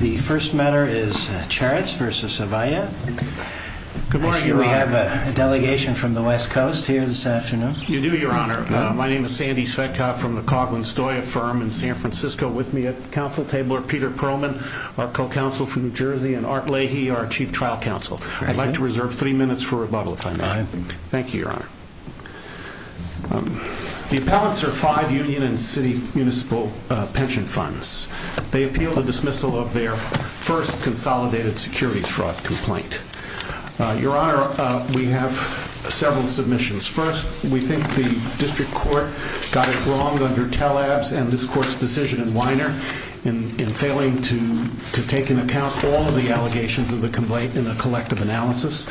The first matter is Charatz v. Avaya. I see we have a delegation from the West Coast here this afternoon. You do, Your Honor. My name is Sandy Svetkov from the Coghlan-Stoya firm in San Francisco with me at the council table are Peter Pearlman, our co-counsel from New Jersey, and Art Leahy, our chief trial counsel. I'd like to reserve three minutes for rebuttal if I may. Thank you, Your Honor. The appellants are five union and city municipal pension funds. They appeal the dismissal of their first consolidated security fraud complaint. Your Honor, we have several submissions. First, we think the district court got it wrong under Tellabs and this court's decision in Weiner in failing to take into account all of the allegations in the collective analysis.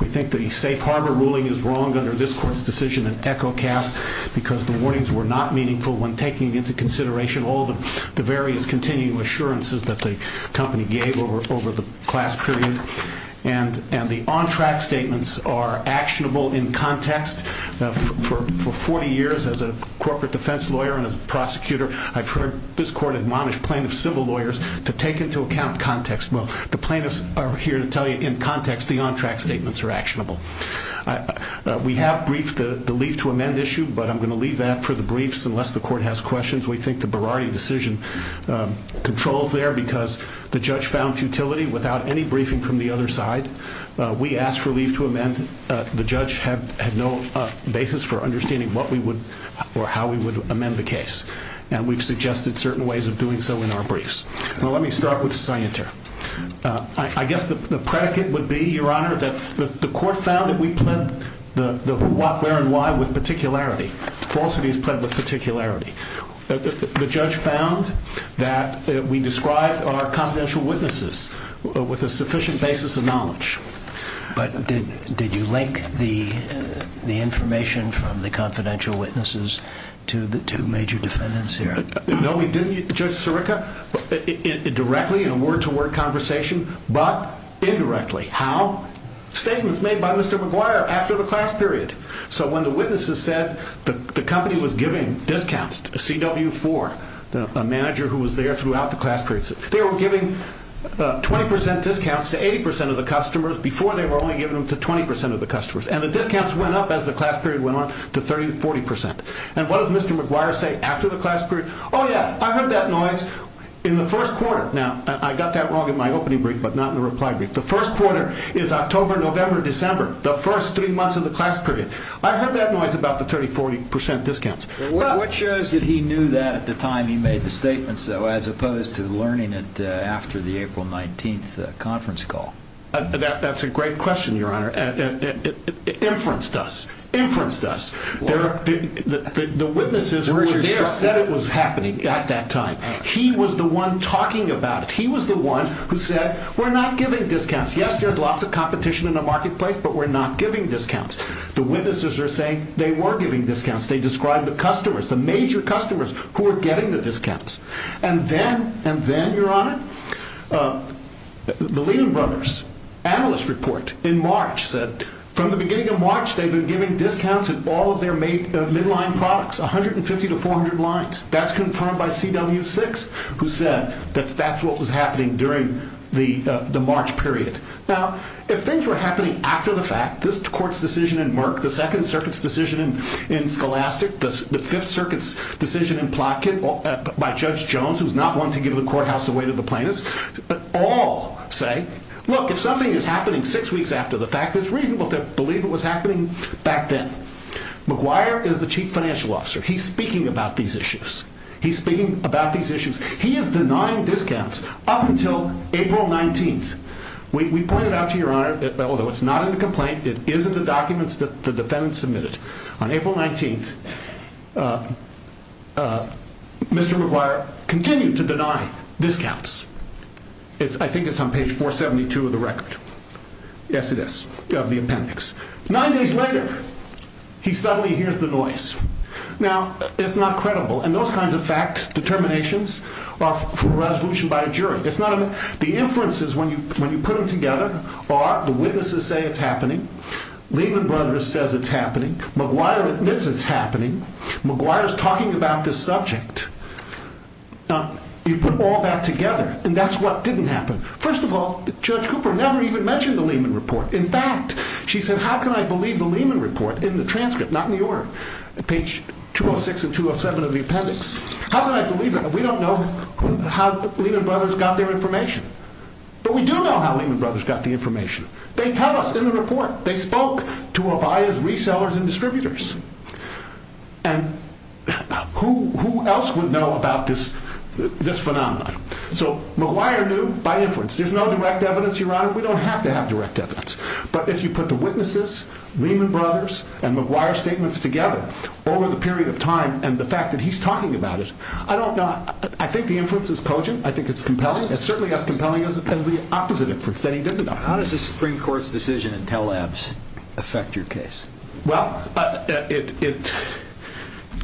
We think the Safe Harbor ruling is wrong under this court's decision in Echocat because the Berardi is continuing assurances that the company gave over the class period and the on-track statements are actionable in context. For 40 years as a corporate defense lawyer and as a prosecutor, I've heard this court admonish plaintiff civil lawyers to take into account context. Well, the plaintiffs are here to tell you in context the on-track statements are actionable. We have briefed the leave to amend issue, but I'm going to leave that for the briefs unless the court has questions. We think the Berardi decision controls there because the judge found futility without any briefing from the other side. We asked for leave to amend. The judge had no basis for understanding what we would or how we would amend the case. And we've suggested certain ways of doing so in our briefs. Well, let me start with Scienter. I guess the predicate would be, Your Honor, that the court found that we pled the where and why with particularity. The judge found that we described our confidential witnesses with a sufficient basis of knowledge. But did you link the information from the confidential witnesses to the two major defendants here? No, we didn't, Judge Sirica. Directly in a word-to-word conversation, but indirectly. How? Statements made by Mr. McGuire after the class period. So when the witnesses said the company was giving discounts to CW4, a manager who was there throughout the class period, they were giving 20% discounts to 80% of the customers before they were only giving them to 20% of the customers. And the discounts went up as the class period went on to 30-40%. And what does Mr. McGuire say after the class period? Oh yeah, I heard that noise in the first quarter. Now I got that wrong in my opening brief, but not in the reply brief. The first quarter is October, November, December. The first three months of the class period. I heard that noise about the 30-40% discounts. What shows that he knew that at the time he made the statements, though, as opposed to learning it after the April 19th conference call? That's a great question, Your Honor. Inference does. Inference does. The witnesses were there, said it was happening at that time. He was the one talking about it. He was the one who said, we're not giving discounts. Yes, there's lots of competition in the marketplace, but we're not giving discounts. The witnesses are saying they were giving discounts. They described the customers, the major customers who were getting the discounts. And then, and then, Your Honor, the Lehman Brothers analyst report in March said from the beginning of March, they've been giving discounts at all of their midline products, 150 to 400 lines. That's confirmed by CW6, who said that that's what was happening during the March period. Now, if things were happening after the fact, this court's decision in Merck, the Second Circuit's decision in Scholastic, the Fifth Circuit's decision in Plotkin by Judge Jones, who's not going to give the courthouse away to the plaintiffs, all say, look, if something is happening six weeks after the fact, it's reasonable to believe it was happening back then. McGuire is the chief financial officer. He's speaking about these issues. He's speaking about these issues. He is denying discounts up until April 19th. We pointed out to Your Honor that although it's not in the complaint, it is in the documents that the defendant submitted. On April 19th, Mr. McGuire continued to deny discounts. I think it's on page 472 of the record. Yes, it is, of the appendix. Nine days later, he suddenly hears the noise. Now, it's not credible. And those kinds of fact determinations are for resolution by a jury. The inferences, when you put them together, are the witnesses say it's happening, Lehman Brothers says it's happening, McGuire admits it's happening, McGuire's talking about this subject. Now, you put all that together, and that's what didn't happen. First of all, Judge Cooper never even mentioned the Lehman Report. In fact, she said, how can I believe the Lehman Report in the transcript, not in the order? On page 206 and 207 of the appendix, how can I believe it? We don't know how Lehman Brothers got their information, but we do know how Lehman Brothers got the information. They tell us in the report, they spoke to Avaya's resellers and distributors, and who else would know about this phenomenon? So McGuire knew by inference, there's no direct evidence, Your Honor, we don't have to have direct evidence. But if you put the witnesses, Lehman Brothers, and McGuire's statements together, over the period of time, and the fact that he's talking about it, I don't know, I think the inference is cogent, I think it's compelling, it's certainly as compelling as the opposite inference that he did, Your Honor. How does the Supreme Court's decision in Tel-Avvs affect your case? Well,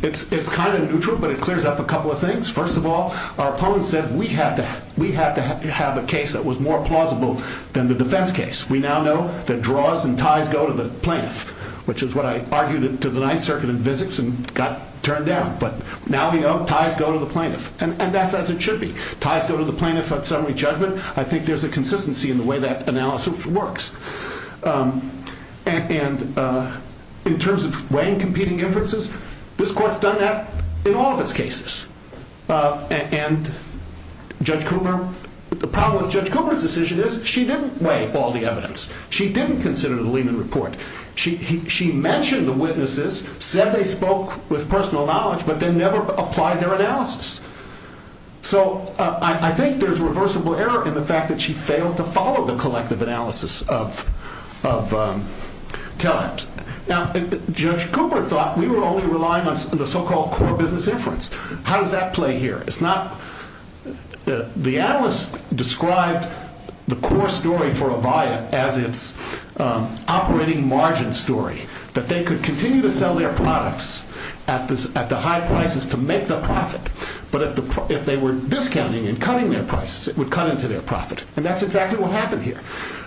it's kind of neutral, but it clears up a couple of things. First of all, our opponent said we had to have a case that was more plausible than the defense case. We now know that draws and ties go to the plaintiff, which is what I argued to the Ninth Circuit in physics and got turned down. But now we know ties go to the plaintiff, and that's as it should be. Ties go to the plaintiff on summary judgment. I think there's a consistency in the way that analysis works. And in terms of weighing competing inferences, this court's done that in all of its cases. And Judge Cooper, the problem with Judge Cooper's decision is she didn't weigh all the evidence. She didn't consider the Lehman Report. She mentioned the witnesses, said they spoke with personal knowledge, but then never applied their analysis. So I think there's reversible error in the fact that she failed to follow the collective analysis of Tel-Avvs. Now, Judge Cooper thought we were only relying on the so-called core business inference. How does that play here? The analyst described the core story for Avaya as its operating margin story, that they could continue to sell their products at the high prices to make the profit. But if they were discounting and cutting their prices, it would cut into their profit. And that's exactly what happened here.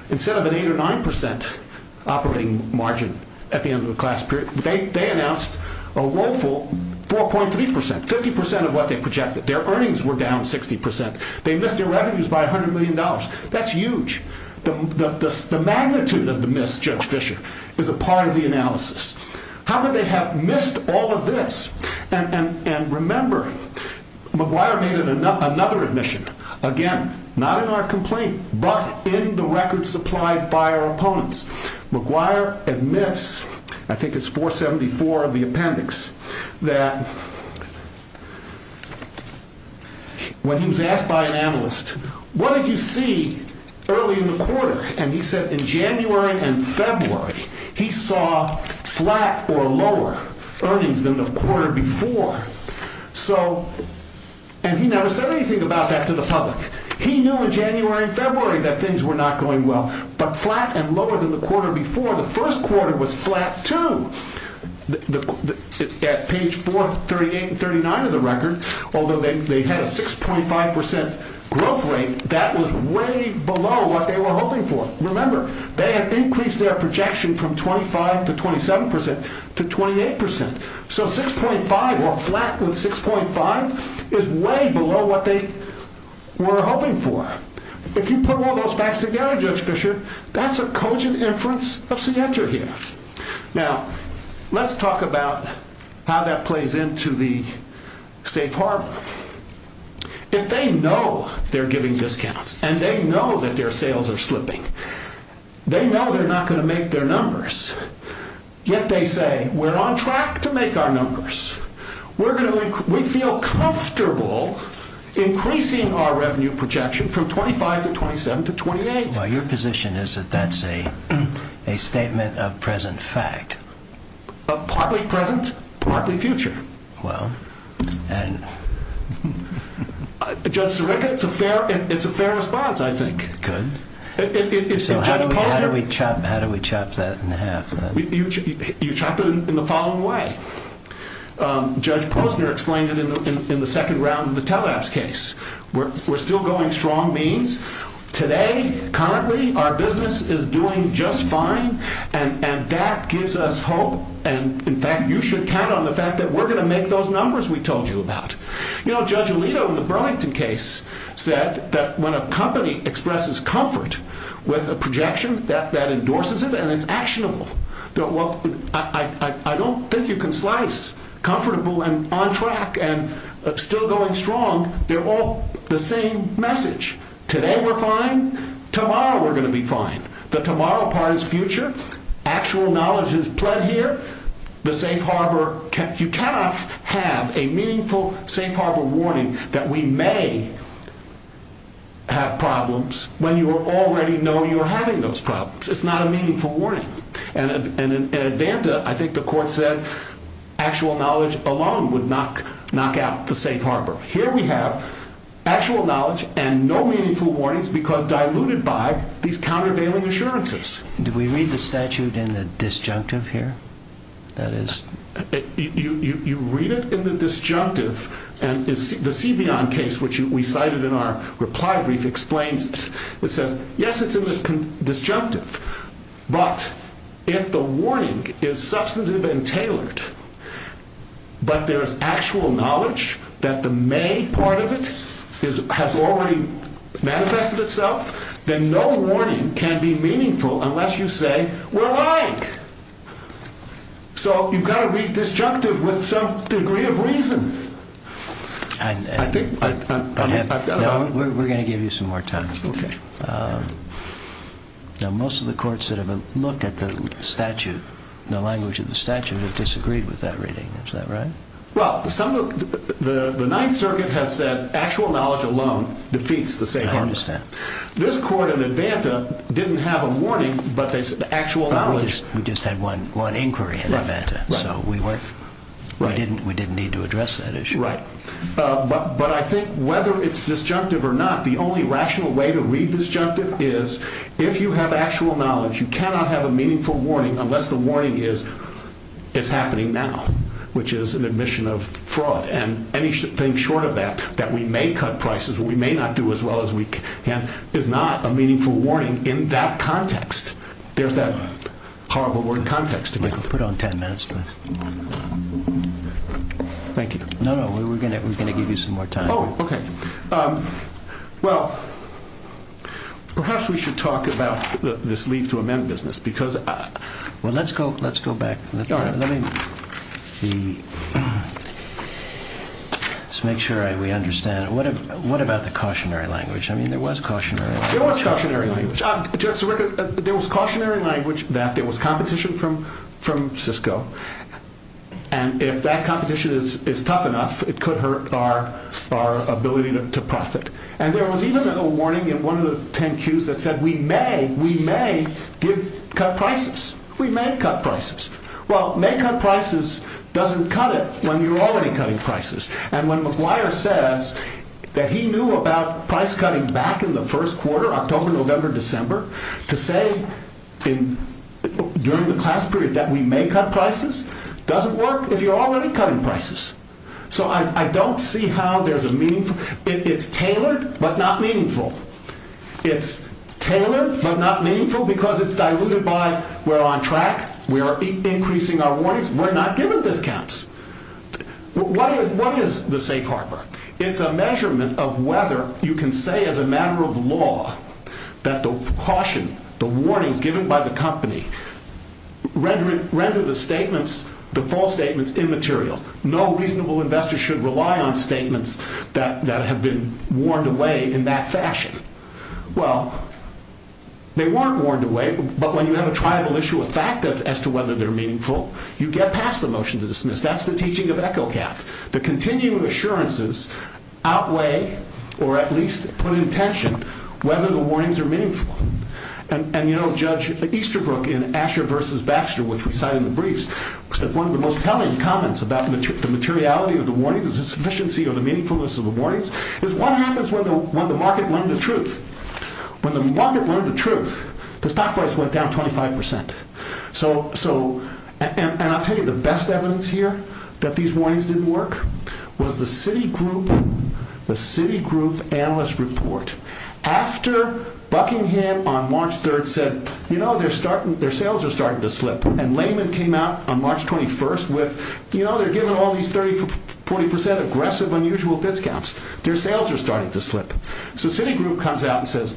Instead of an 8 or 9 percent operating margin at the end of the class period, they announced a woeful 4.3 percent, 50 percent of what they projected. Their earnings were down 60 percent. They missed their revenues by $100 million. That's huge. The magnitude of the miss, Judge Fischer, is a part of the analysis. How could they have missed all of this? And remember, McGuire made another admission, again, not in our complaint, but in the record supplied by our opponents. McGuire admits, I think it's 474 of the appendix, that when he was asked by an analyst, what did you see early in the quarter? And he said in January and February, he saw flat or lower earnings than the quarter before. So, and he never said anything about that to the public. He knew in January and February that things were not going well. But flat and lower than the quarter before, the first quarter was flat too. At page 4, 38 and 39 of the record, although they had a 6.5 percent growth rate, that was way below what they were hoping for. Remember, they had increased their projection from 25 to 27 percent to 28 percent. So, 6.5 or flat with 6.5 is way below what they were hoping for. If you put all those facts together, Judge Fischer, that's a cogent inference of Sietra here. Now, let's talk about how that plays into the safe harbor. If they know they're giving discounts and they know that their sales are slipping, they know they're not going to make their numbers, yet they say, we're on track to make our numbers. We feel comfortable increasing our revenue projection from 25 to 27 to 28. Well, your position is that that's a statement of present fact. Partly present, partly future. Well, and... Judge Zareka, it's a fair response, I think. Good. So how do we chop that in half? You chop it in the following way. Judge Posner explained it in the second round of the tele-apps case. We're still going strong means. Today, currently, our business is doing just fine, and that gives us hope. And, in fact, you should count on the fact that we're going to make those numbers we told you about. You know, Judge Alito, in the Burlington case, said that when a company expresses comfort with a projection, that endorses it and it's actionable. I don't think you can slice comfortable and on track and still going strong. They're all the same message. Today, we're fine. Tomorrow, we're going to be fine. The tomorrow part is future. Actual knowledge is pled here. The safe harbor... You cannot have a meaningful safe harbor warning that we may have problems when you already know you're having those problems. It's not a meaningful warning. In Advanta, I think the court said actual knowledge alone would knock out the safe harbor. Here we have actual knowledge and no meaningful warnings because diluted by these countervailing assurances. Do we read the statute in the disjunctive here? You read it in the disjunctive. The C.B. on case, which we cited in our reply brief, explains it. Yes, it's in the disjunctive. But if the warning is substantive and tailored, but there's actual knowledge that the may part of it has already manifested itself, then no warning can be meaningful unless you say, we're lying. So you've got to be disjunctive with some degree of reason. We're going to give you some more time. Most of the courts that have looked at the language of the statute have disagreed with that reading. Is that right? The Ninth Circuit has said actual knowledge alone defeats the safe harbor. I understand. This court in Advanta didn't have a warning, but there's actual knowledge. We just had one inquiry in Advanta, so we didn't need to address that issue. But I think whether it's disjunctive or not, the only rational way to read disjunctive is, if you have actual knowledge, you cannot have a meaningful warning unless the warning is, it's happening now, which is an admission of fraud. And anything short of that, that we may cut prices, or we may not do as well as we can, is not a meaningful warning in that context. There's that horrible word context. Put on ten minutes, please. Thank you. No, no, we're going to give you some more time. Oh, okay. Well, perhaps we should talk about this leave to amend business. Well, let's go back. Let's make sure we understand. What about the cautionary language? I mean, there was cautionary language. There was cautionary language. There was competition from Cisco. And if that competition is tough enough, it could hurt our ability to profit. And there was even a warning in one of the ten cues that said we may, we may cut prices. We may cut prices. Well, may cut prices doesn't cut it when you're already cutting prices. And when McGuire says that he knew about price cutting back in the first quarter, October, November, December, to say during the class period that we may cut prices doesn't work if you're already cutting prices. So I don't see how there's a meaningful. It's tailored, but not meaningful. It's tailored, but not meaningful because it's diluted by we're on track. We are increasing our warnings. We're not giving discounts. What is the safe harbor? It's a measurement of whether you can say as a matter of law that the caution, the warnings given by the company render the statements, the false statements immaterial. No reasonable investor should rely on statements that have been warned away in that fashion. Well, they weren't warned away, but when you have a tribal issue, a fact as to whether they're meaningful, you get past the motion to dismiss. That's the teaching of Echocat. The continuing assurances outweigh, or at least put in tension, whether the warnings are meaningful. And, you know, Judge Easterbrook in Asher versus Baxter, which we cite in the briefs, said one of the most telling comments about the materiality of the warning, the sufficiency or the meaningfulness of the warnings, is what happens when the market learned the truth? When the market learned the truth, the stock price went down 25%. So, and I'll tell you the best evidence here that these warnings didn't work was the Citigroup... the Citigroup analyst report. After Buckingham on March 3rd said, you know, their sales are starting to slip, and Lehman came out on March 21st with, you know, they're giving all these 30, 40% aggressive, unusual discounts. Their sales are starting to slip. So Citigroup comes out and says,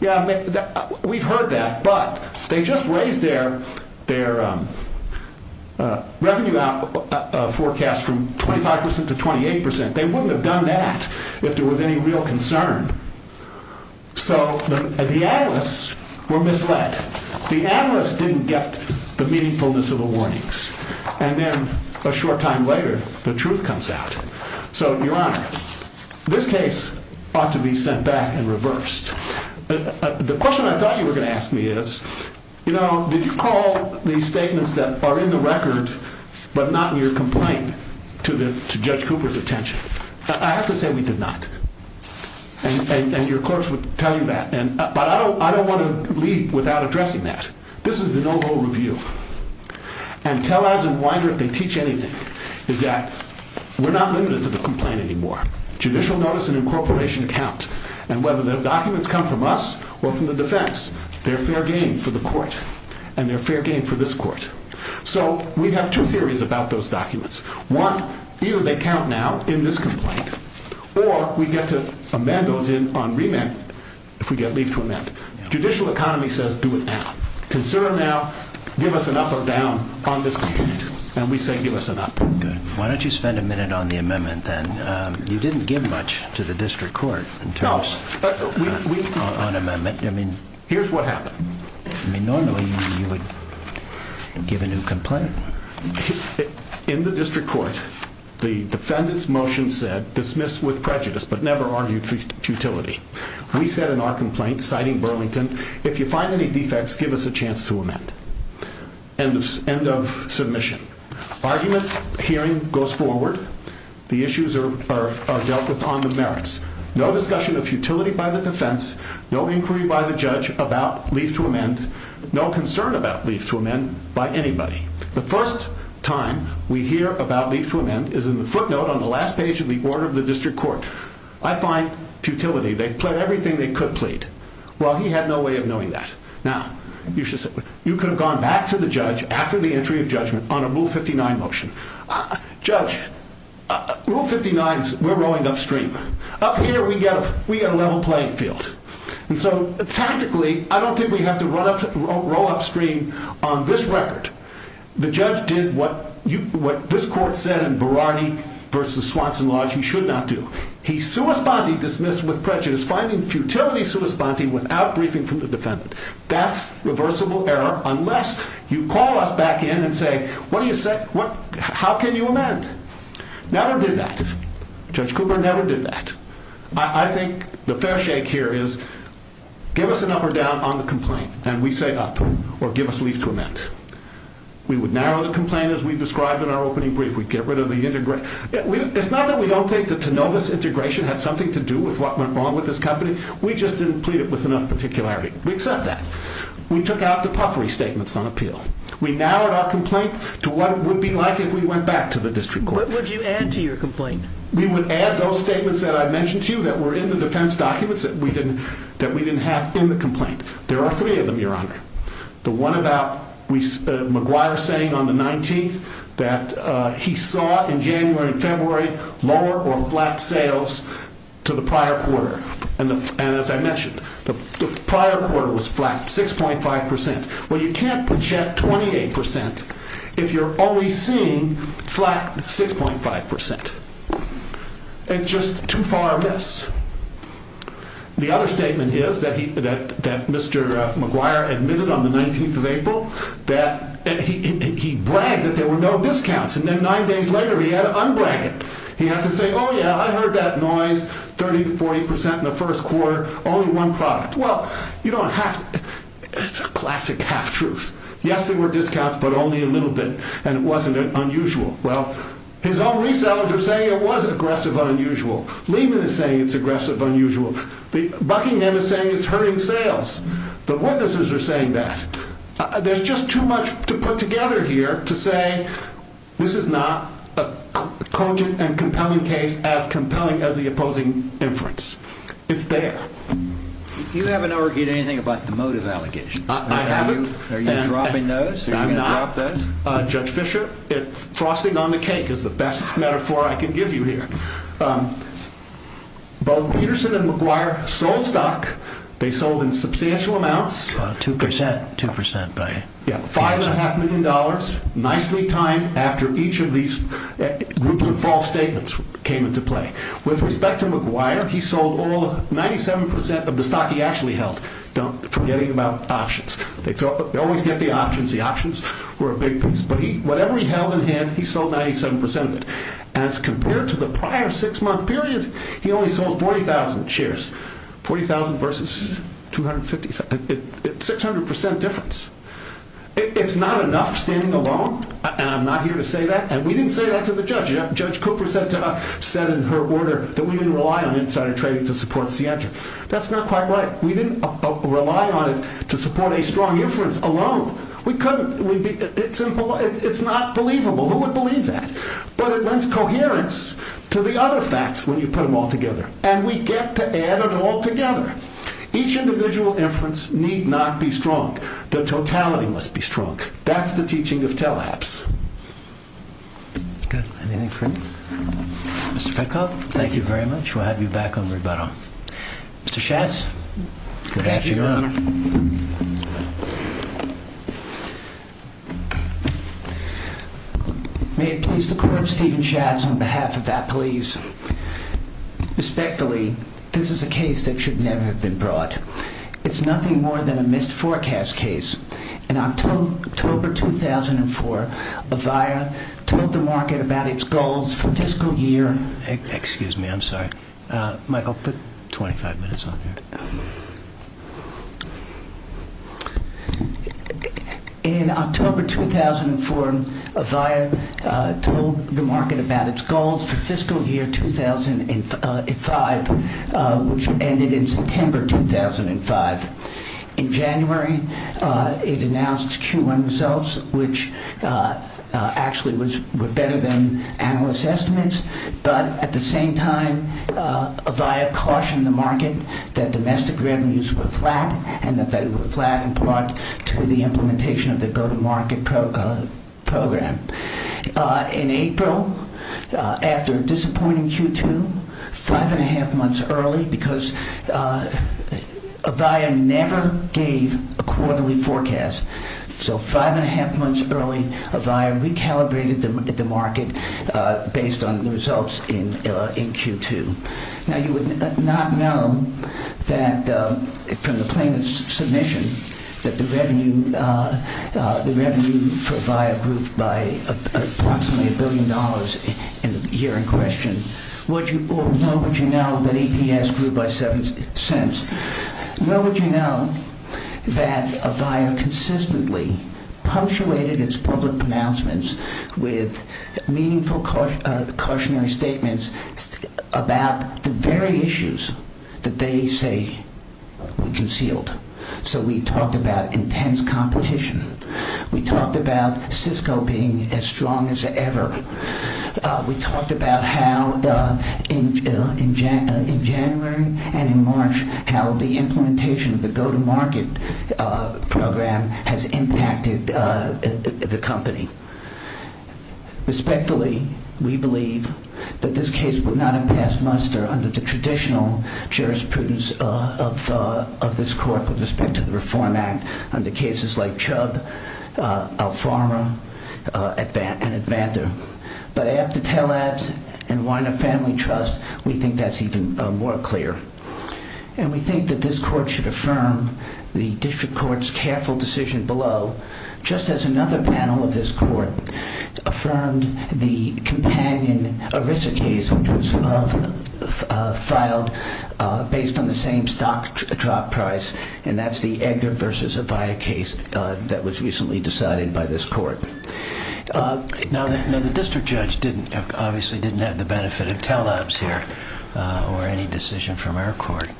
yeah, we've heard that, but they just raised their, their revenue out forecast from 25% to 28%. They wouldn't have done that if there was any real concern. So the analysts were misled. The analysts didn't get the meaningfulness of the warnings. And then a short time later, the truth comes out. So, Your Honor, this case ought to be sent back and reversed. The question I thought you were going to ask me is, you know, did you call these statements that are in the record but not in your complaint to Judge Cooper's attention? I have to say we did not. And your courts would tell you that. But I don't want to leave without addressing that. This is the no-rule review. And tell Ads and Winder if they teach anything is that we're not limited to the complaint anymore. Judicial notice and incorporation account. And whether the documents come from us or from the defense, they're fair game for the court. And they're fair game for this court. So we have two theories about those documents. One, either they count now in this complaint or we get to amend those on remand if we get leave to amend. Judicial economy says do it now. Consider them now. Give us an up or down on this complaint. And we say give us an up. Why don't you spend a minute on the amendment then? You didn't give much to the district court in terms of on amendment. Here's what happened. Normally you would give a new complaint. In the district court the defendant's motion said dismiss with prejudice but never argue for futility. We said in our complaint, citing Burlington, if you find any defects, give us a chance to amend. End of submission. Argument hearing goes forward. The issues are dealt with on the merits. No discussion of leave to amend. No concern about leave to amend by anybody. The first time we hear about leave to amend is in the footnote on the last page of the order of the district court. I find futility. They plead everything they could plead. He had no way of knowing that. You could have gone back to the judge after the entry of judgment on a Rule 59 motion. Judge, Rule 59 is we're rowing upstream. Up here we get a level playing field. Tactically, I don't think we have to row upstream on this record. The judge did what this court said in Berardi v. Swanson Lodge. He should not do. Finding futility without briefing from the defendant. That's reversible error unless you call us back in and say how can you amend? Judge Cooper never did that. I think the fair shake here is give us an up or down on the complaint and we say up or give us leave to amend. We would narrow the complaint as we described in our opening brief. It's not that we don't think the Tenova's integration had something to do with what went wrong with this company. We just didn't plead it with enough particularity. We accept that. We took out the puffery statements on appeal. We narrowed our complaint to what it would be like if we went back to the district court. What would you add to your complaint? We would add those statements that I mentioned to you that were in the defense documents that we didn't have in the complaint. There are three of them, Your Honor. The one about McGuire saying on the 19th that he saw in January and February lower or flat sales to the prior quarter. And as I mentioned the prior quarter was flat 6.5%. Well you can't project 28% if you're only seeing flat 6.5%. And just too far of this. The other statement is that Mr. McGuire admitted on the 19th of April that he bragged that there were no discounts and then nine days later he had to un-brag it. He had to say oh yeah I heard that noise 30 to 40% in the first quarter, only one product. Well you don't have to it's a classic half truth. Yes there were discounts but only a little bit and it wasn't unusual. His own resellers are saying it was aggressive unusual. Lehman is saying it's aggressive unusual. Buckingham is saying it's hurting sales. The witnesses are saying that. There's just too much to put together here to say this is not a cogent and compelling case as compelling as the opposing inference. It's there. You haven't argued anything about the motive allegations. I haven't. Are you dropping those? I'm not. Judge Fischer, frosting on the cake is the best metaphor I can give you here. Both Peterson and McGuire sold stock. They sold in substantial amounts. 2%. $5.5 million nicely timed after each of these groups of false statements came into play. With respect to McGuire, he sold all 97% of the stock he actually held. Forgetting about options. They always get the options. The options were a big piece. Whatever he held in hand, he sold 97% of it. As compared to the prior six-month period, he only sold 40,000 shares. 40,000 versus 600% difference. It's not enough standing alone. I'm not here to say that. We didn't say that to the judge. Judge Cooper said in her order that we didn't rely on insider trading to support Sientra. That's not quite right. We didn't rely on it to support a strong inference alone. We couldn't. It's not believable. Who would believe that? But it lends coherence to the other facts when you put them all together. And we get to add it all together. Each individual inference need not be strong. The totality must be strong. That's the teaching of tele-apps. Good. Anything for me? Mr. Fedko, thank you very much. We'll have you back on rebuttal. Mr. Schatz? Good afternoon, Your Honor. May it please the Court Stephen Schatz on behalf of Appalese. Respectfully, this is a case that should never have been brought. It's nothing more than a missed forecast case. In October 2004, Bavia told the market about its goals for fiscal year. Excuse me, I'm sorry. Michael, put 25 minutes on here. In October 2004, Bavia told the market about its goals for fiscal year 2005, which ended in September 2005. In January, it announced Q1 results, which actually were better than analysts' estimates. But at the same time, Bavia cautioned the market that domestic revenues were flat and that they were flat in part to the implementation of the go-to-market program. In April, after a disappointing Q2, five and a half months early because Bavia never gave a quarterly forecast. So five and a half months early, Bavia recalibrated the market based on the results in Q2. Now, you would not know that from the plaintiff's submission that the revenue for Bavia grew by approximately a billion dollars in the year in question. Nor would you know that EPS grew by seven cents. Nor would you know that Bavia consistently punctuated its public pronouncements with meaningful cautionary statements about the very issues that they say were concealed. So we talked about intense competition. We talked about Cisco being as strong as ever. We talked about how in January and in March, how the implementation of the go-to-market program has impacted the company. Respectfully, we believe that this case would not have passed muster under the traditional jurisprudence of this court with respect to the Reform Act under cases like Chubb, Alfama and Advanter. But after Telabs and Weiner Family Trust, we think that's even more clear. And we think that this court should affirm the district court's careful decision below just as another panel of this court affirmed the companion ERISA case which was filed based on the same stock drop price and that's the Edgar v. Avaya case that was recently decided by this court. Now the district judge obviously didn't have the benefit of Telabs here or any decision from our court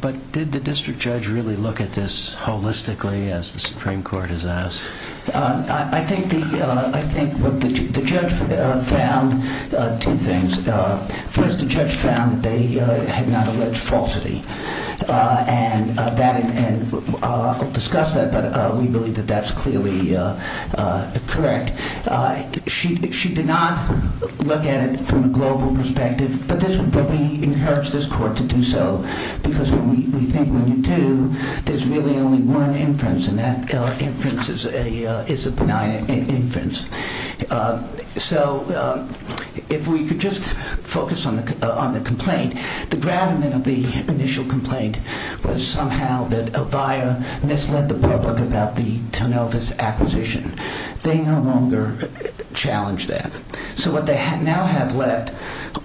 but did the district judge really look at this holistically as the Supreme Court has asked? I think the judge found two things. First, the judge found that they had not alleged falsity and I'll discuss that but we believe that that's clearly correct. She did not look at it from a global perspective but we encourage this court to do so because we think when you do, there's really only one inference and that inference is a benign inference. So if we could just focus on the complaint the gravamen of the initial complaint was somehow that Avaya misled the public about the Tonovas acquisition. They no longer challenge that. So what they now have left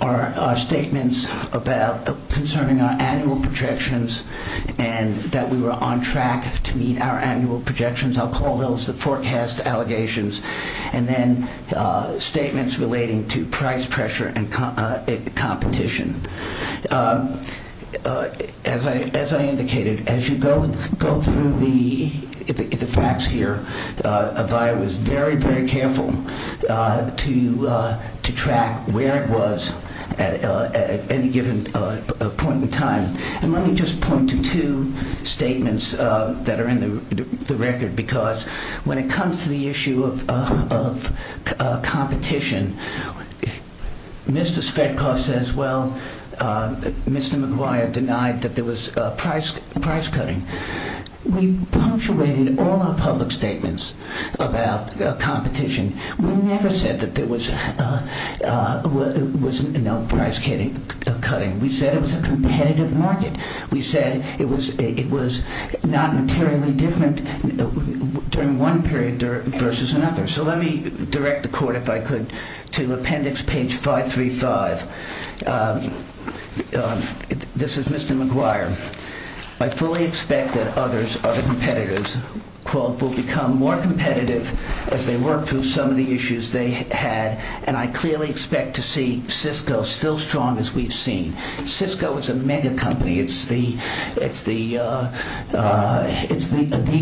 are statements about concerning our annual projections and that we were on track to meet our annual projections I'll call those the forecast allegations and then statements relating to price pressure and competition. As I indicated as you go through the facts here Avaya was very very careful to track where it was at any given point in time and let me just point to two statements that are in the record because when it comes to the issue of competition Mr. Svetkov says well Mr. Maguire denied that there was price cutting. We punctuated all our public statements about competition we never said that there was no price cutting. We said it was a competitive market. We said it was not materially different during one period versus another. So let me direct the court if I could to appendix page 535 This is Mr. Maguire I fully expect that others, other competitors will become more competitive as they work through some of the issues they had and I clearly expect to see Cisco still strong as we've seen. Cisco is a mega company. It's the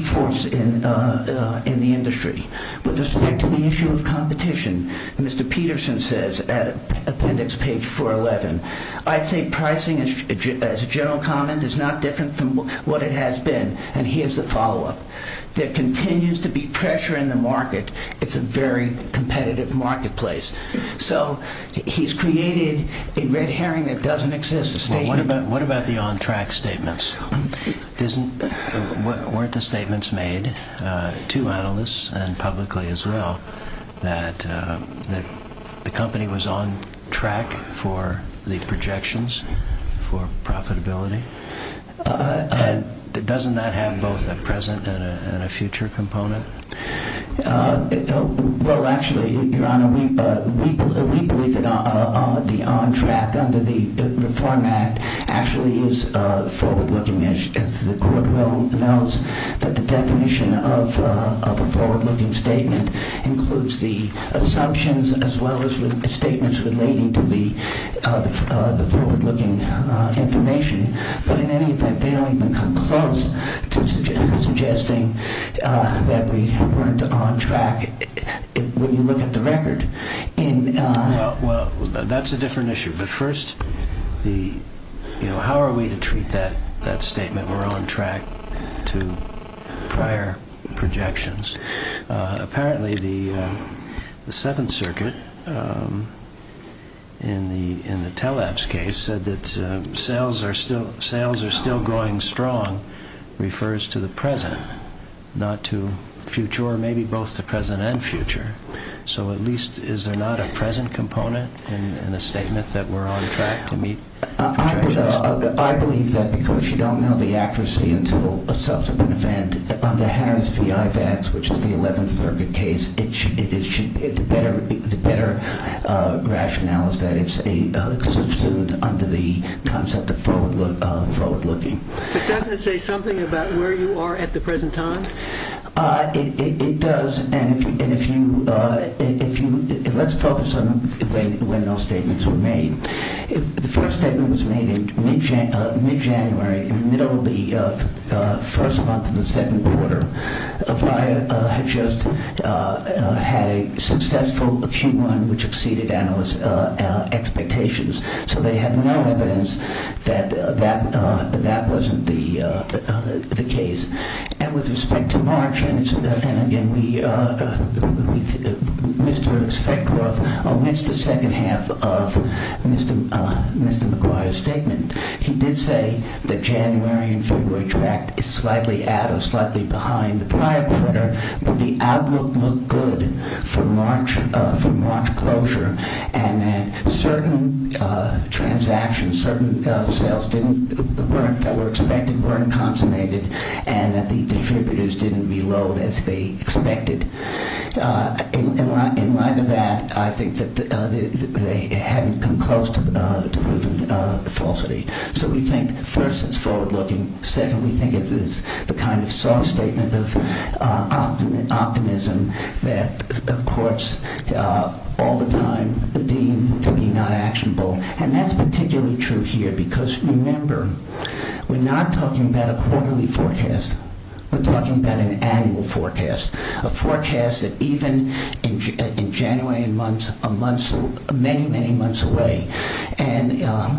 force in the industry. With respect to the issue of competition Mr. Peterson says appendix page 411 I'd say pricing as a general comment is not different from what it has been and here's the follow up there continues to be pressure in the market it's a very competitive marketplace. So he's created a red herring that doesn't exist. What about the on track statements? Weren't the statements made to analysts and publicly as well that the company was on track for the projections for profitability and doesn't that have both a present and a future component? Well actually your honor we believe that the on track under the reform act actually is forward looking as the court will note that the definition of a forward looking statement includes the assumptions as well as statements relating to the forward looking information but in any event they don't even come close to suggesting that we weren't on track when you look at the record Well that's a different issue but first how are we to treat that statement we're on track to prior projections apparently the 7th circuit um in the teleps case said that sales are still going strong refers to the present not to future or maybe both the present and future so at least is there not a present component in a statement that we're on track to meet I believe that because you don't know the accuracy until a subsequent event under Harris V.I. Vance which is the 11th circuit case it should be the better rationale is that it's a under the concept of forward looking doesn't it say something about where you are at the present time it does and if you let's focus on when those statements were made the first statement was made in mid January in the middle of the first month of the second quarter McGuire had just had a successful Q1 which exceeded analysts expectations so they have no evidence that that wasn't the case and with respect to March and again we Mr. Speckroth omits the second half of Mr. McGuire's statement he did say that January and February tracked slightly out or slightly behind the prior quarter but the outlook looked good for March closure and that certain transactions that were expected weren't consummated and that the distributors didn't reload as they expected in light of that I think that they haven't come close to proven falsity so we think first it's forward looking second we think it's the kind of soft statement of optimism that courts all the time deem to be not actionable and that's particularly true here because remember we're not talking about a quarterly forecast we're talking about an annual forecast a forecast that even in January many many months away and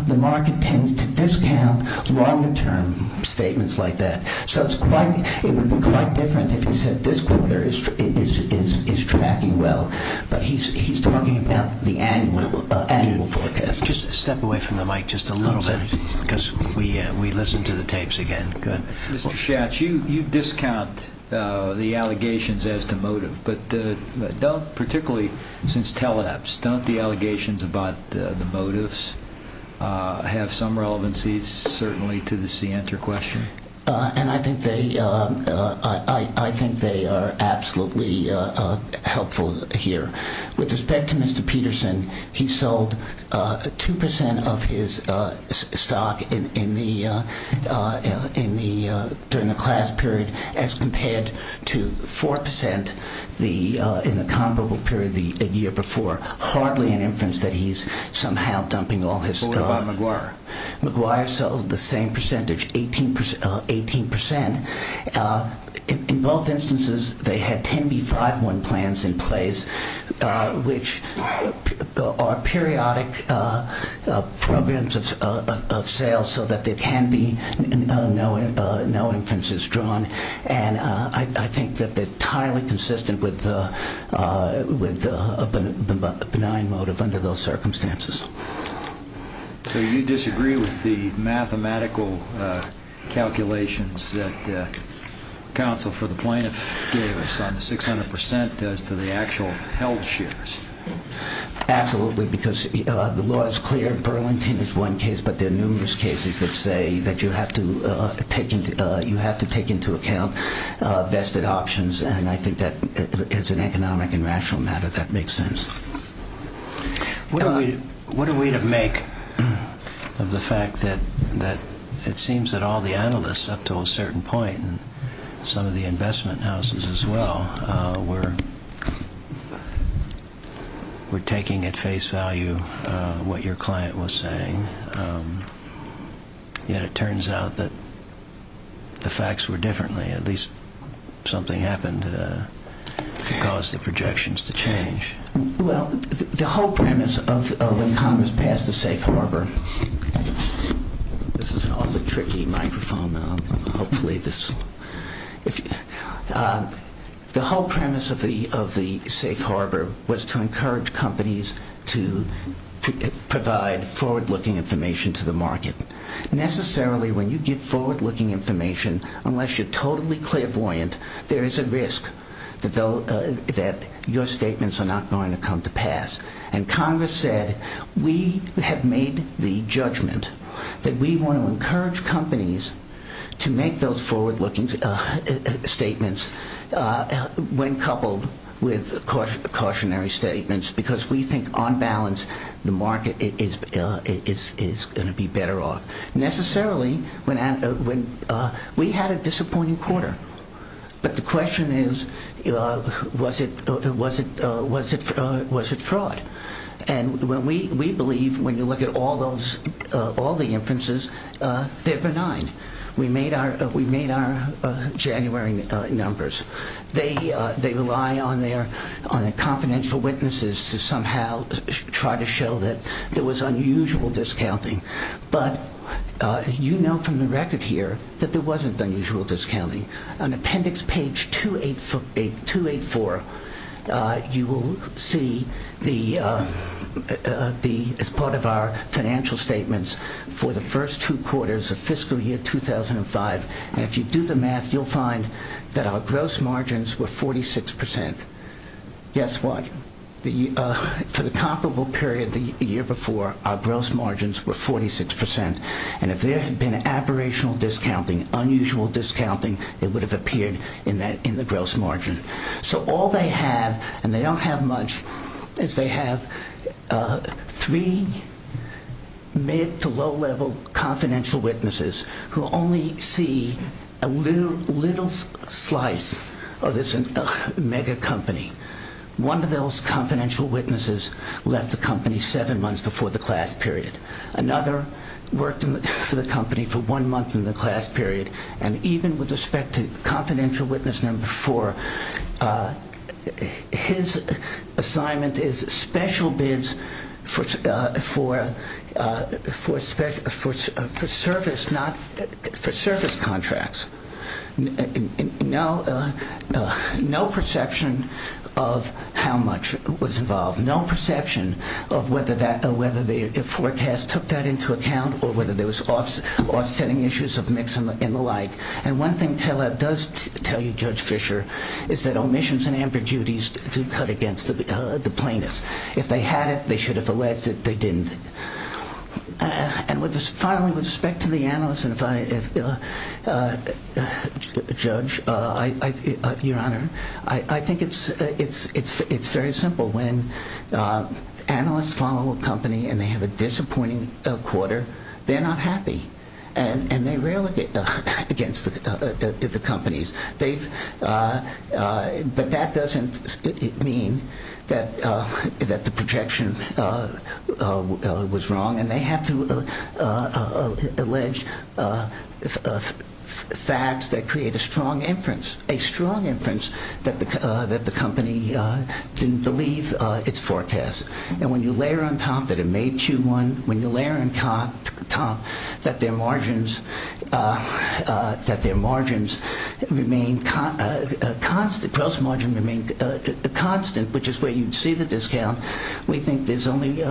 the market tends to discount longer term statements like that so it would be quite different if he said this quarter is tracking well but he's talking about the annual forecast just step away from the mic just a little bit because we listen to the tapes again Mr. Schatz you discount the allegations as to motive but don't particularly since Teleps don't the allegations about the motives have some relevancy certainly to the C enter question and I think they are absolutely helpful here with respect to Mr. Peterson he sold 2% of his stock in the during the class period as compared to 4% in the comparable period the year before hardly an inference that he's somehow dumping all his stock McGuire sold the same percentage 18% in both instances they had 10B51 plans in place which are periodic programs of sales so that there can be no inferences drawn and I think that they're consistent with motive under those circumstances so you disagree with the mathematical calculations council for the plaintiff gave us on 600% as to the actual held shares absolutely because the law is clear one case but there are numerous cases that say that you have to take into account vested options and I think that as an economic and rational matter that makes sense what are we to make of the fact that it seems that all the analysts up to a certain point and some of the investment houses as well were taking at face value what your client was saying yet it turns out that the facts were differently at least something happened to cause the projections to change the whole premise of when Congress passed the safe harbor this is an awful tricky microphone the whole premise of the safe harbor was to encourage companies to provide forward looking information to the market necessarily when you give forward looking information unless you are totally clairvoyant there is a risk that your statements are not going to come to pass and Congress said we have made the judgment that we want to encourage companies to make those forward looking statements when coupled with cautionary statements because we think on balance the market is going to be better off necessarily we had a disappointing quarter but the question is was it fraud and we believe when you look at all the inferences they are benign we made our January numbers they rely on their confidential witnesses to somehow try to show that there was unusual discounting but you know from the record here that there wasn't unusual discounting on appendix page 284 you will see as part of our financial statements for the first two quarters of fiscal year 2005 and if you do the math you will find that our gross margins were 46% guess what for the comparable period the year before our gross margins were 46% and if there had been aberrational discounting unusual discounting it would have appeared in the gross margin so all they have and they don't have much is they have three mid to low level confidential witnesses who only see a little slice of this mega company one of those confidential witnesses left the company seven months before the class period another worked for the company for one month in the class period and even with respect to confidential witness number four his assignment is special bids for for service not for service contracts no perception of how much was involved no perception of whether the forecast took that into account or whether there was offsetting issues of mix and the like and one thing does tell you Judge Fischer is that omissions and ambiguities do cut against the plaintiffs if they had it they should have alleged that they didn't and finally with respect to the judge your honor I think it's very simple when analysts follow a company and they have a disappointing quarter they're not happy and they rarely get against the companies they've but that doesn't mean that the projection was wrong and they have to allege facts that create a strong inference a strong inference that the company didn't believe its forecast and when you layer on top that it made Q1 when you layer on top that their margins that their margins remain constant constant which is where you see the discount we think there's only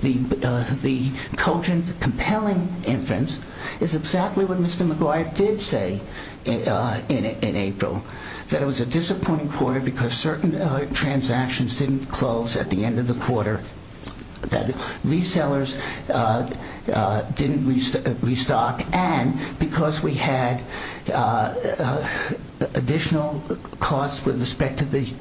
the cogent compelling inference is exactly what Mr. McGuire did say in April that it was a disappointing quarter because certain transactions didn't close at the end of the quarter that resellers didn't restock and because we had additional costs with respect to the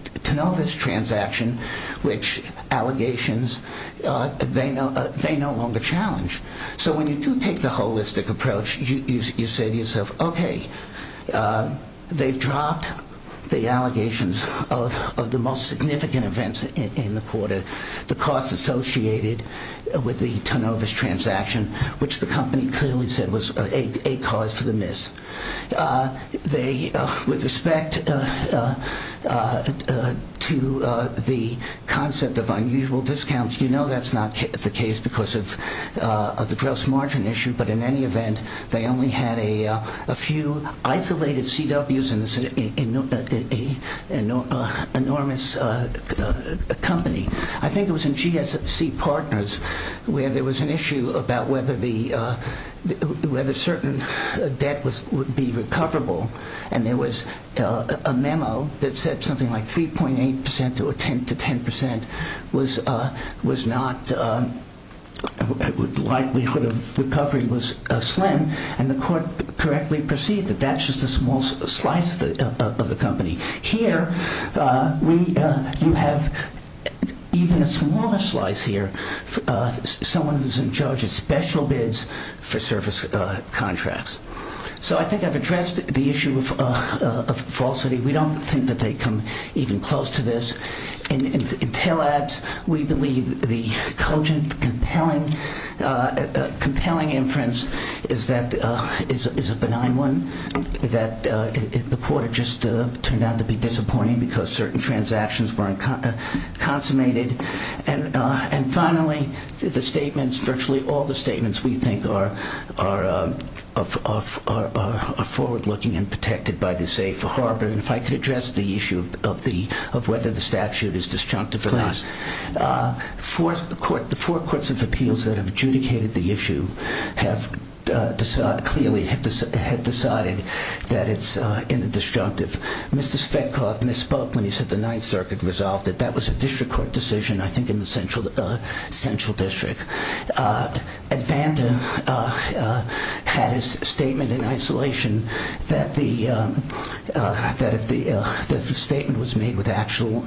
transaction which allegations they no longer challenge so when you do take the holistic approach you say to yourself okay they've dropped the allegations of the most significant events in the quarter the costs associated with the turnover's transaction which the company clearly said was a cause for the miss they with respect to the concept of unusual discounts you know that's not the case because of the gross margin issue but in any event they only had a few isolated CW's an enormous company I think it was in GSC Partners where there was an issue about whether the certain debt would be recoverable and there was a memo that said something like 3.8% to 10% was not likelihood of recovery was slim and the court correctly perceived that that's just a small slice of the company here you have even a smaller slice here someone who's in charge of special bids for service contracts so I think I've addressed the issue of falsity we don't think that they come even close to this we believe the cogent compelling compelling inference is that is a benign one the quarter just turned out to be disappointing because certain transactions were consummated and finally the statements virtually all the statements we think are forward looking and protected by the safe harbor and if I could address the issue of the of whether the statute is disjunctive or not the four courts of appeals that have adjudicated the issue have clearly have decided that it's in the disjunctive Mr. Spetkov misspoke when he said the 9th Circuit resolved it that was a district court decision I think in the central district Advanta had his statement in isolation that the statement was made with actual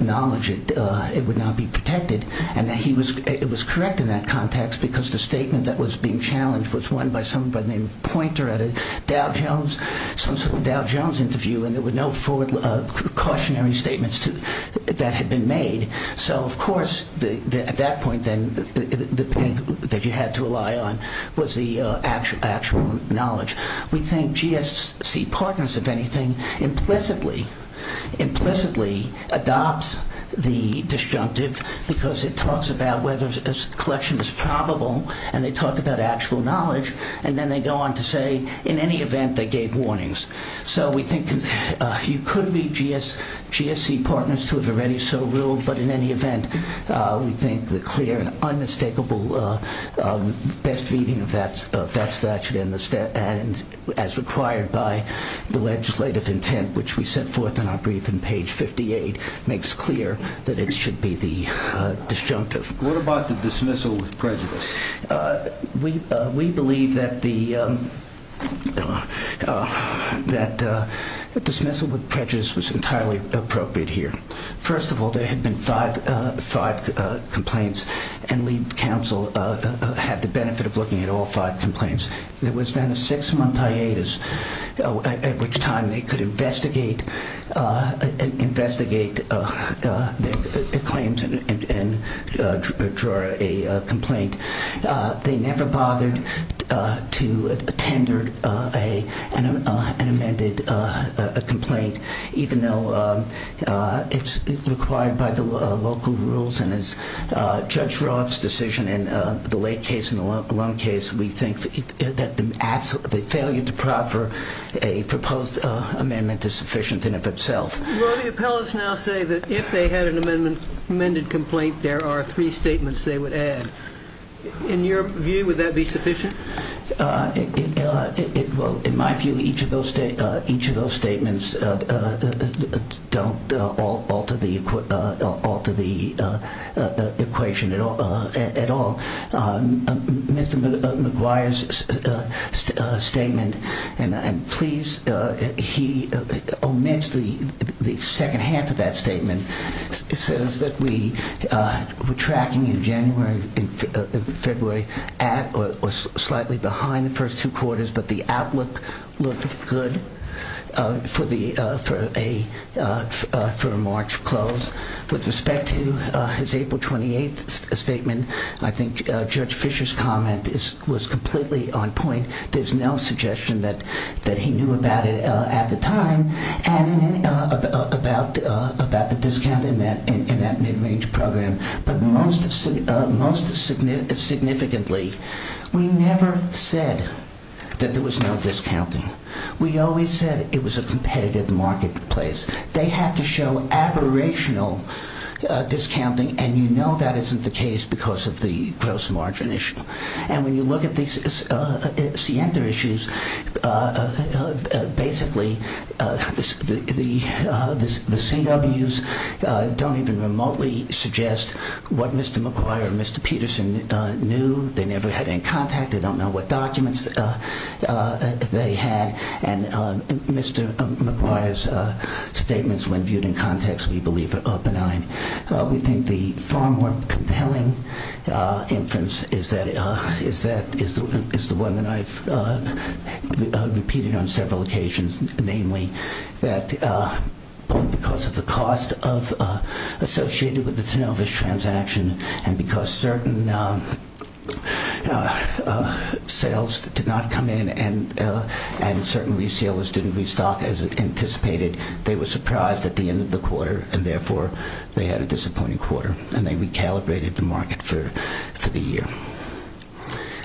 knowledge it would not be protected and it was correct in that context because the statement that was being challenged was one by someone by the name of Pointer at a Dow Jones Dow Jones interview and there were no cautionary statements that had been made so of course at that point the thing that you had to rely on was the actual knowledge we think GSC partners if anything implicitly implicitly adopts the disjunctive because it talks about whether collection is probable and they talk about actual knowledge and then they go on to say in any event they gave warnings so we think you could be GSC partners to have already so ruled but in any event we think the clear and unmistakable best reading of that statute as required by the legislative intent which we set forth in our brief in page 58 makes clear that it should be the disjunctive. What about the dismissal with prejudice? We believe that the that dismissal with prejudice was entirely appropriate here. First of all there had been five complaints and lead council had the benefit of looking at all five complaints. There was then a six month hiatus at which time they could investigate investigate their claims and draw a complaint they never bothered to tender an amended a complaint even though it's required by the local rules and as Judge Roth's decision in the Lake case and the Lund case we think that the failure to proffer a proposed amendment is sufficient in of itself. Will the appellants now say that if they had an amended complaint there are three statements they would add? In your view would that be sufficient? In my view each of those statements don't alter the equation at all. Mr. McGuire's statement please omits the second half of that statement says that we were tracking in January and February slightly behind the first two quarters but the outlook looked good for a March close with respect to his April 28th statement I think Judge Fisher's comment was completely on point. There's no suggestion that he knew about it at the time and about the discount in that mid-range program but most significantly we never said that there was no discounting. We always said it was a competitive marketplace they had to show aberrational discounting and you know that isn't the case because of the gross margin issue and when you look at these issues basically the CWs don't even remotely suggest what Mr. McGuire or Mr. Peterson knew. They never had any contact. They don't know what documents they had and Mr. McGuire's statements when viewed in context we believe are benign. We think the far more compelling inference is that is the one that I've repeated on several occasions namely that because of the cost associated with the Tanovish transaction and because certain sales did not come in and certain resellers didn't restock as anticipated they were surprised at the end of the quarter and therefore they had a disappointing quarter and they recalibrated the market for the year.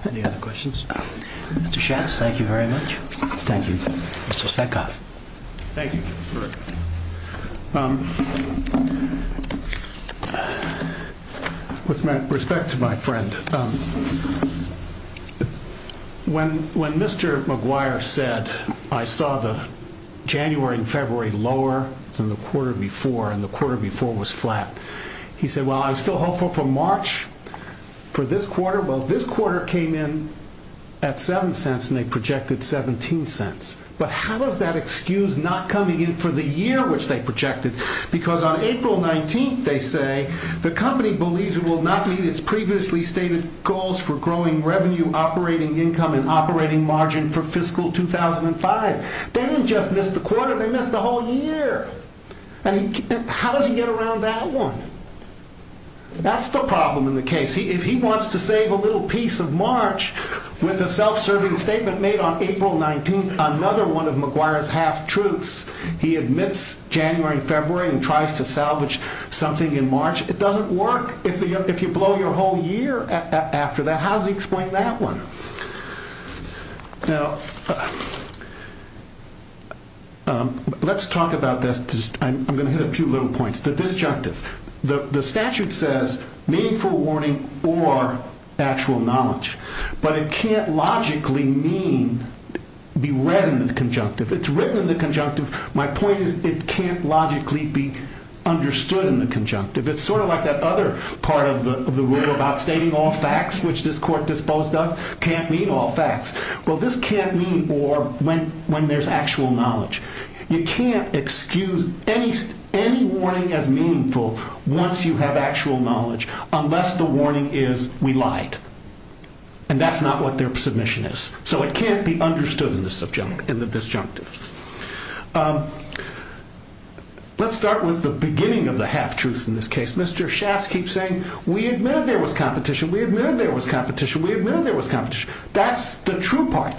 Any other questions? Mr. Schatz thank you very much. Thank you. Mr. Speckoff. With respect to my friend when Mr. McGuire said I saw the January and February lower than the quarter before and the quarter before was flat. He said well I'm still hopeful for March for this quarter. Well this quarter came in at 7 cents and they projected 17 cents but how does that excuse not coming in for the year which they projected because on April 19th they say the company believes it will not meet its previously stated goals for growing revenue, operating income and operating margin for fiscal 2005. They didn't just miss the quarter they missed the whole year and how does he get around that one? That's the problem in the case. If he wants to save a little piece of March with a self serving statement made on April 19th another one of McGuire's half truths he admits January and February and tries to salvage something in March it doesn't work if you blow your whole year after that how does he explain that one? Let's talk about this I'm going to hit a few little points the disjunctive. The statute says meaningful warning or actual knowledge but it can't logically mean be read in the conjunctive it's written in the conjunctive my point is it can't logically be understood in the conjunctive it's sort of like that other part of the rule about stating all facts which this court disposed of can't mean all facts well this can't mean when there's actual knowledge you can't excuse any warning as meaningful once you have actual knowledge unless the warning is we lied and that's not what their submission is so it can't be understood in the subjunctive in the disjunctive let's start with the beginning of the half truths in this case Mr. Schatz keeps saying we admit there was competition we admit there was competition that's the true part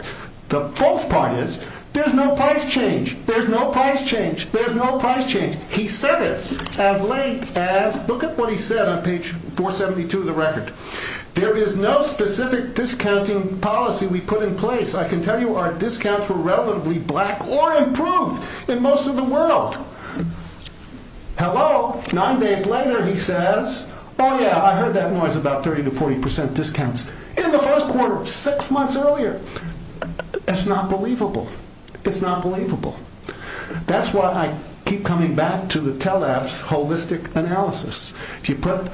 the false part is there's no price change he said it as late as look at what he said on page 472 there is no specific discounting policy we put in place I can tell you our discounts were relatively black or improved in most of the world hello 9 days later he says oh yeah I heard that noise about 30-40% discounts in the first quarter 6 months earlier it's not believable it's not believable that's why I keep coming back to the Teleps holistic analysis if you put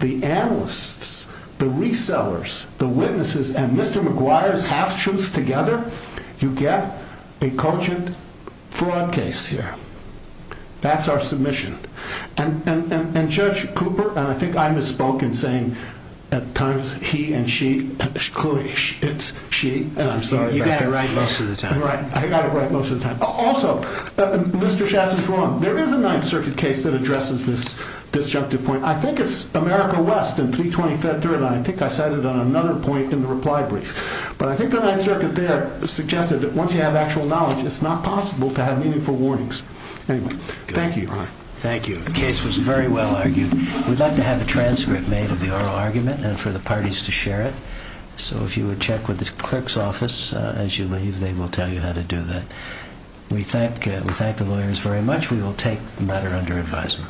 the analysts the resellers the witnesses and Mr. McGuire's half truths together you get a cogent fraud case here that's our submission and Judge Cooper and I think I misspoke in saying he and she it's she you got it right most of the time I got it right most of the time also Mr. Schatz is wrong there is a 9th circuit case that addresses this disjunctive point I think it's America West I think I said it on another point in the reply brief but I think the 9th circuit there suggested that once you have actual knowledge it's not possible to have meaningful warnings thank you the case was very well argued we'd like to have a transcript made of the oral argument and for the parties to share it so if you would check with the clerk's office as you leave they will tell you how to do that we thank the lawyers very much we will take the matter under advisement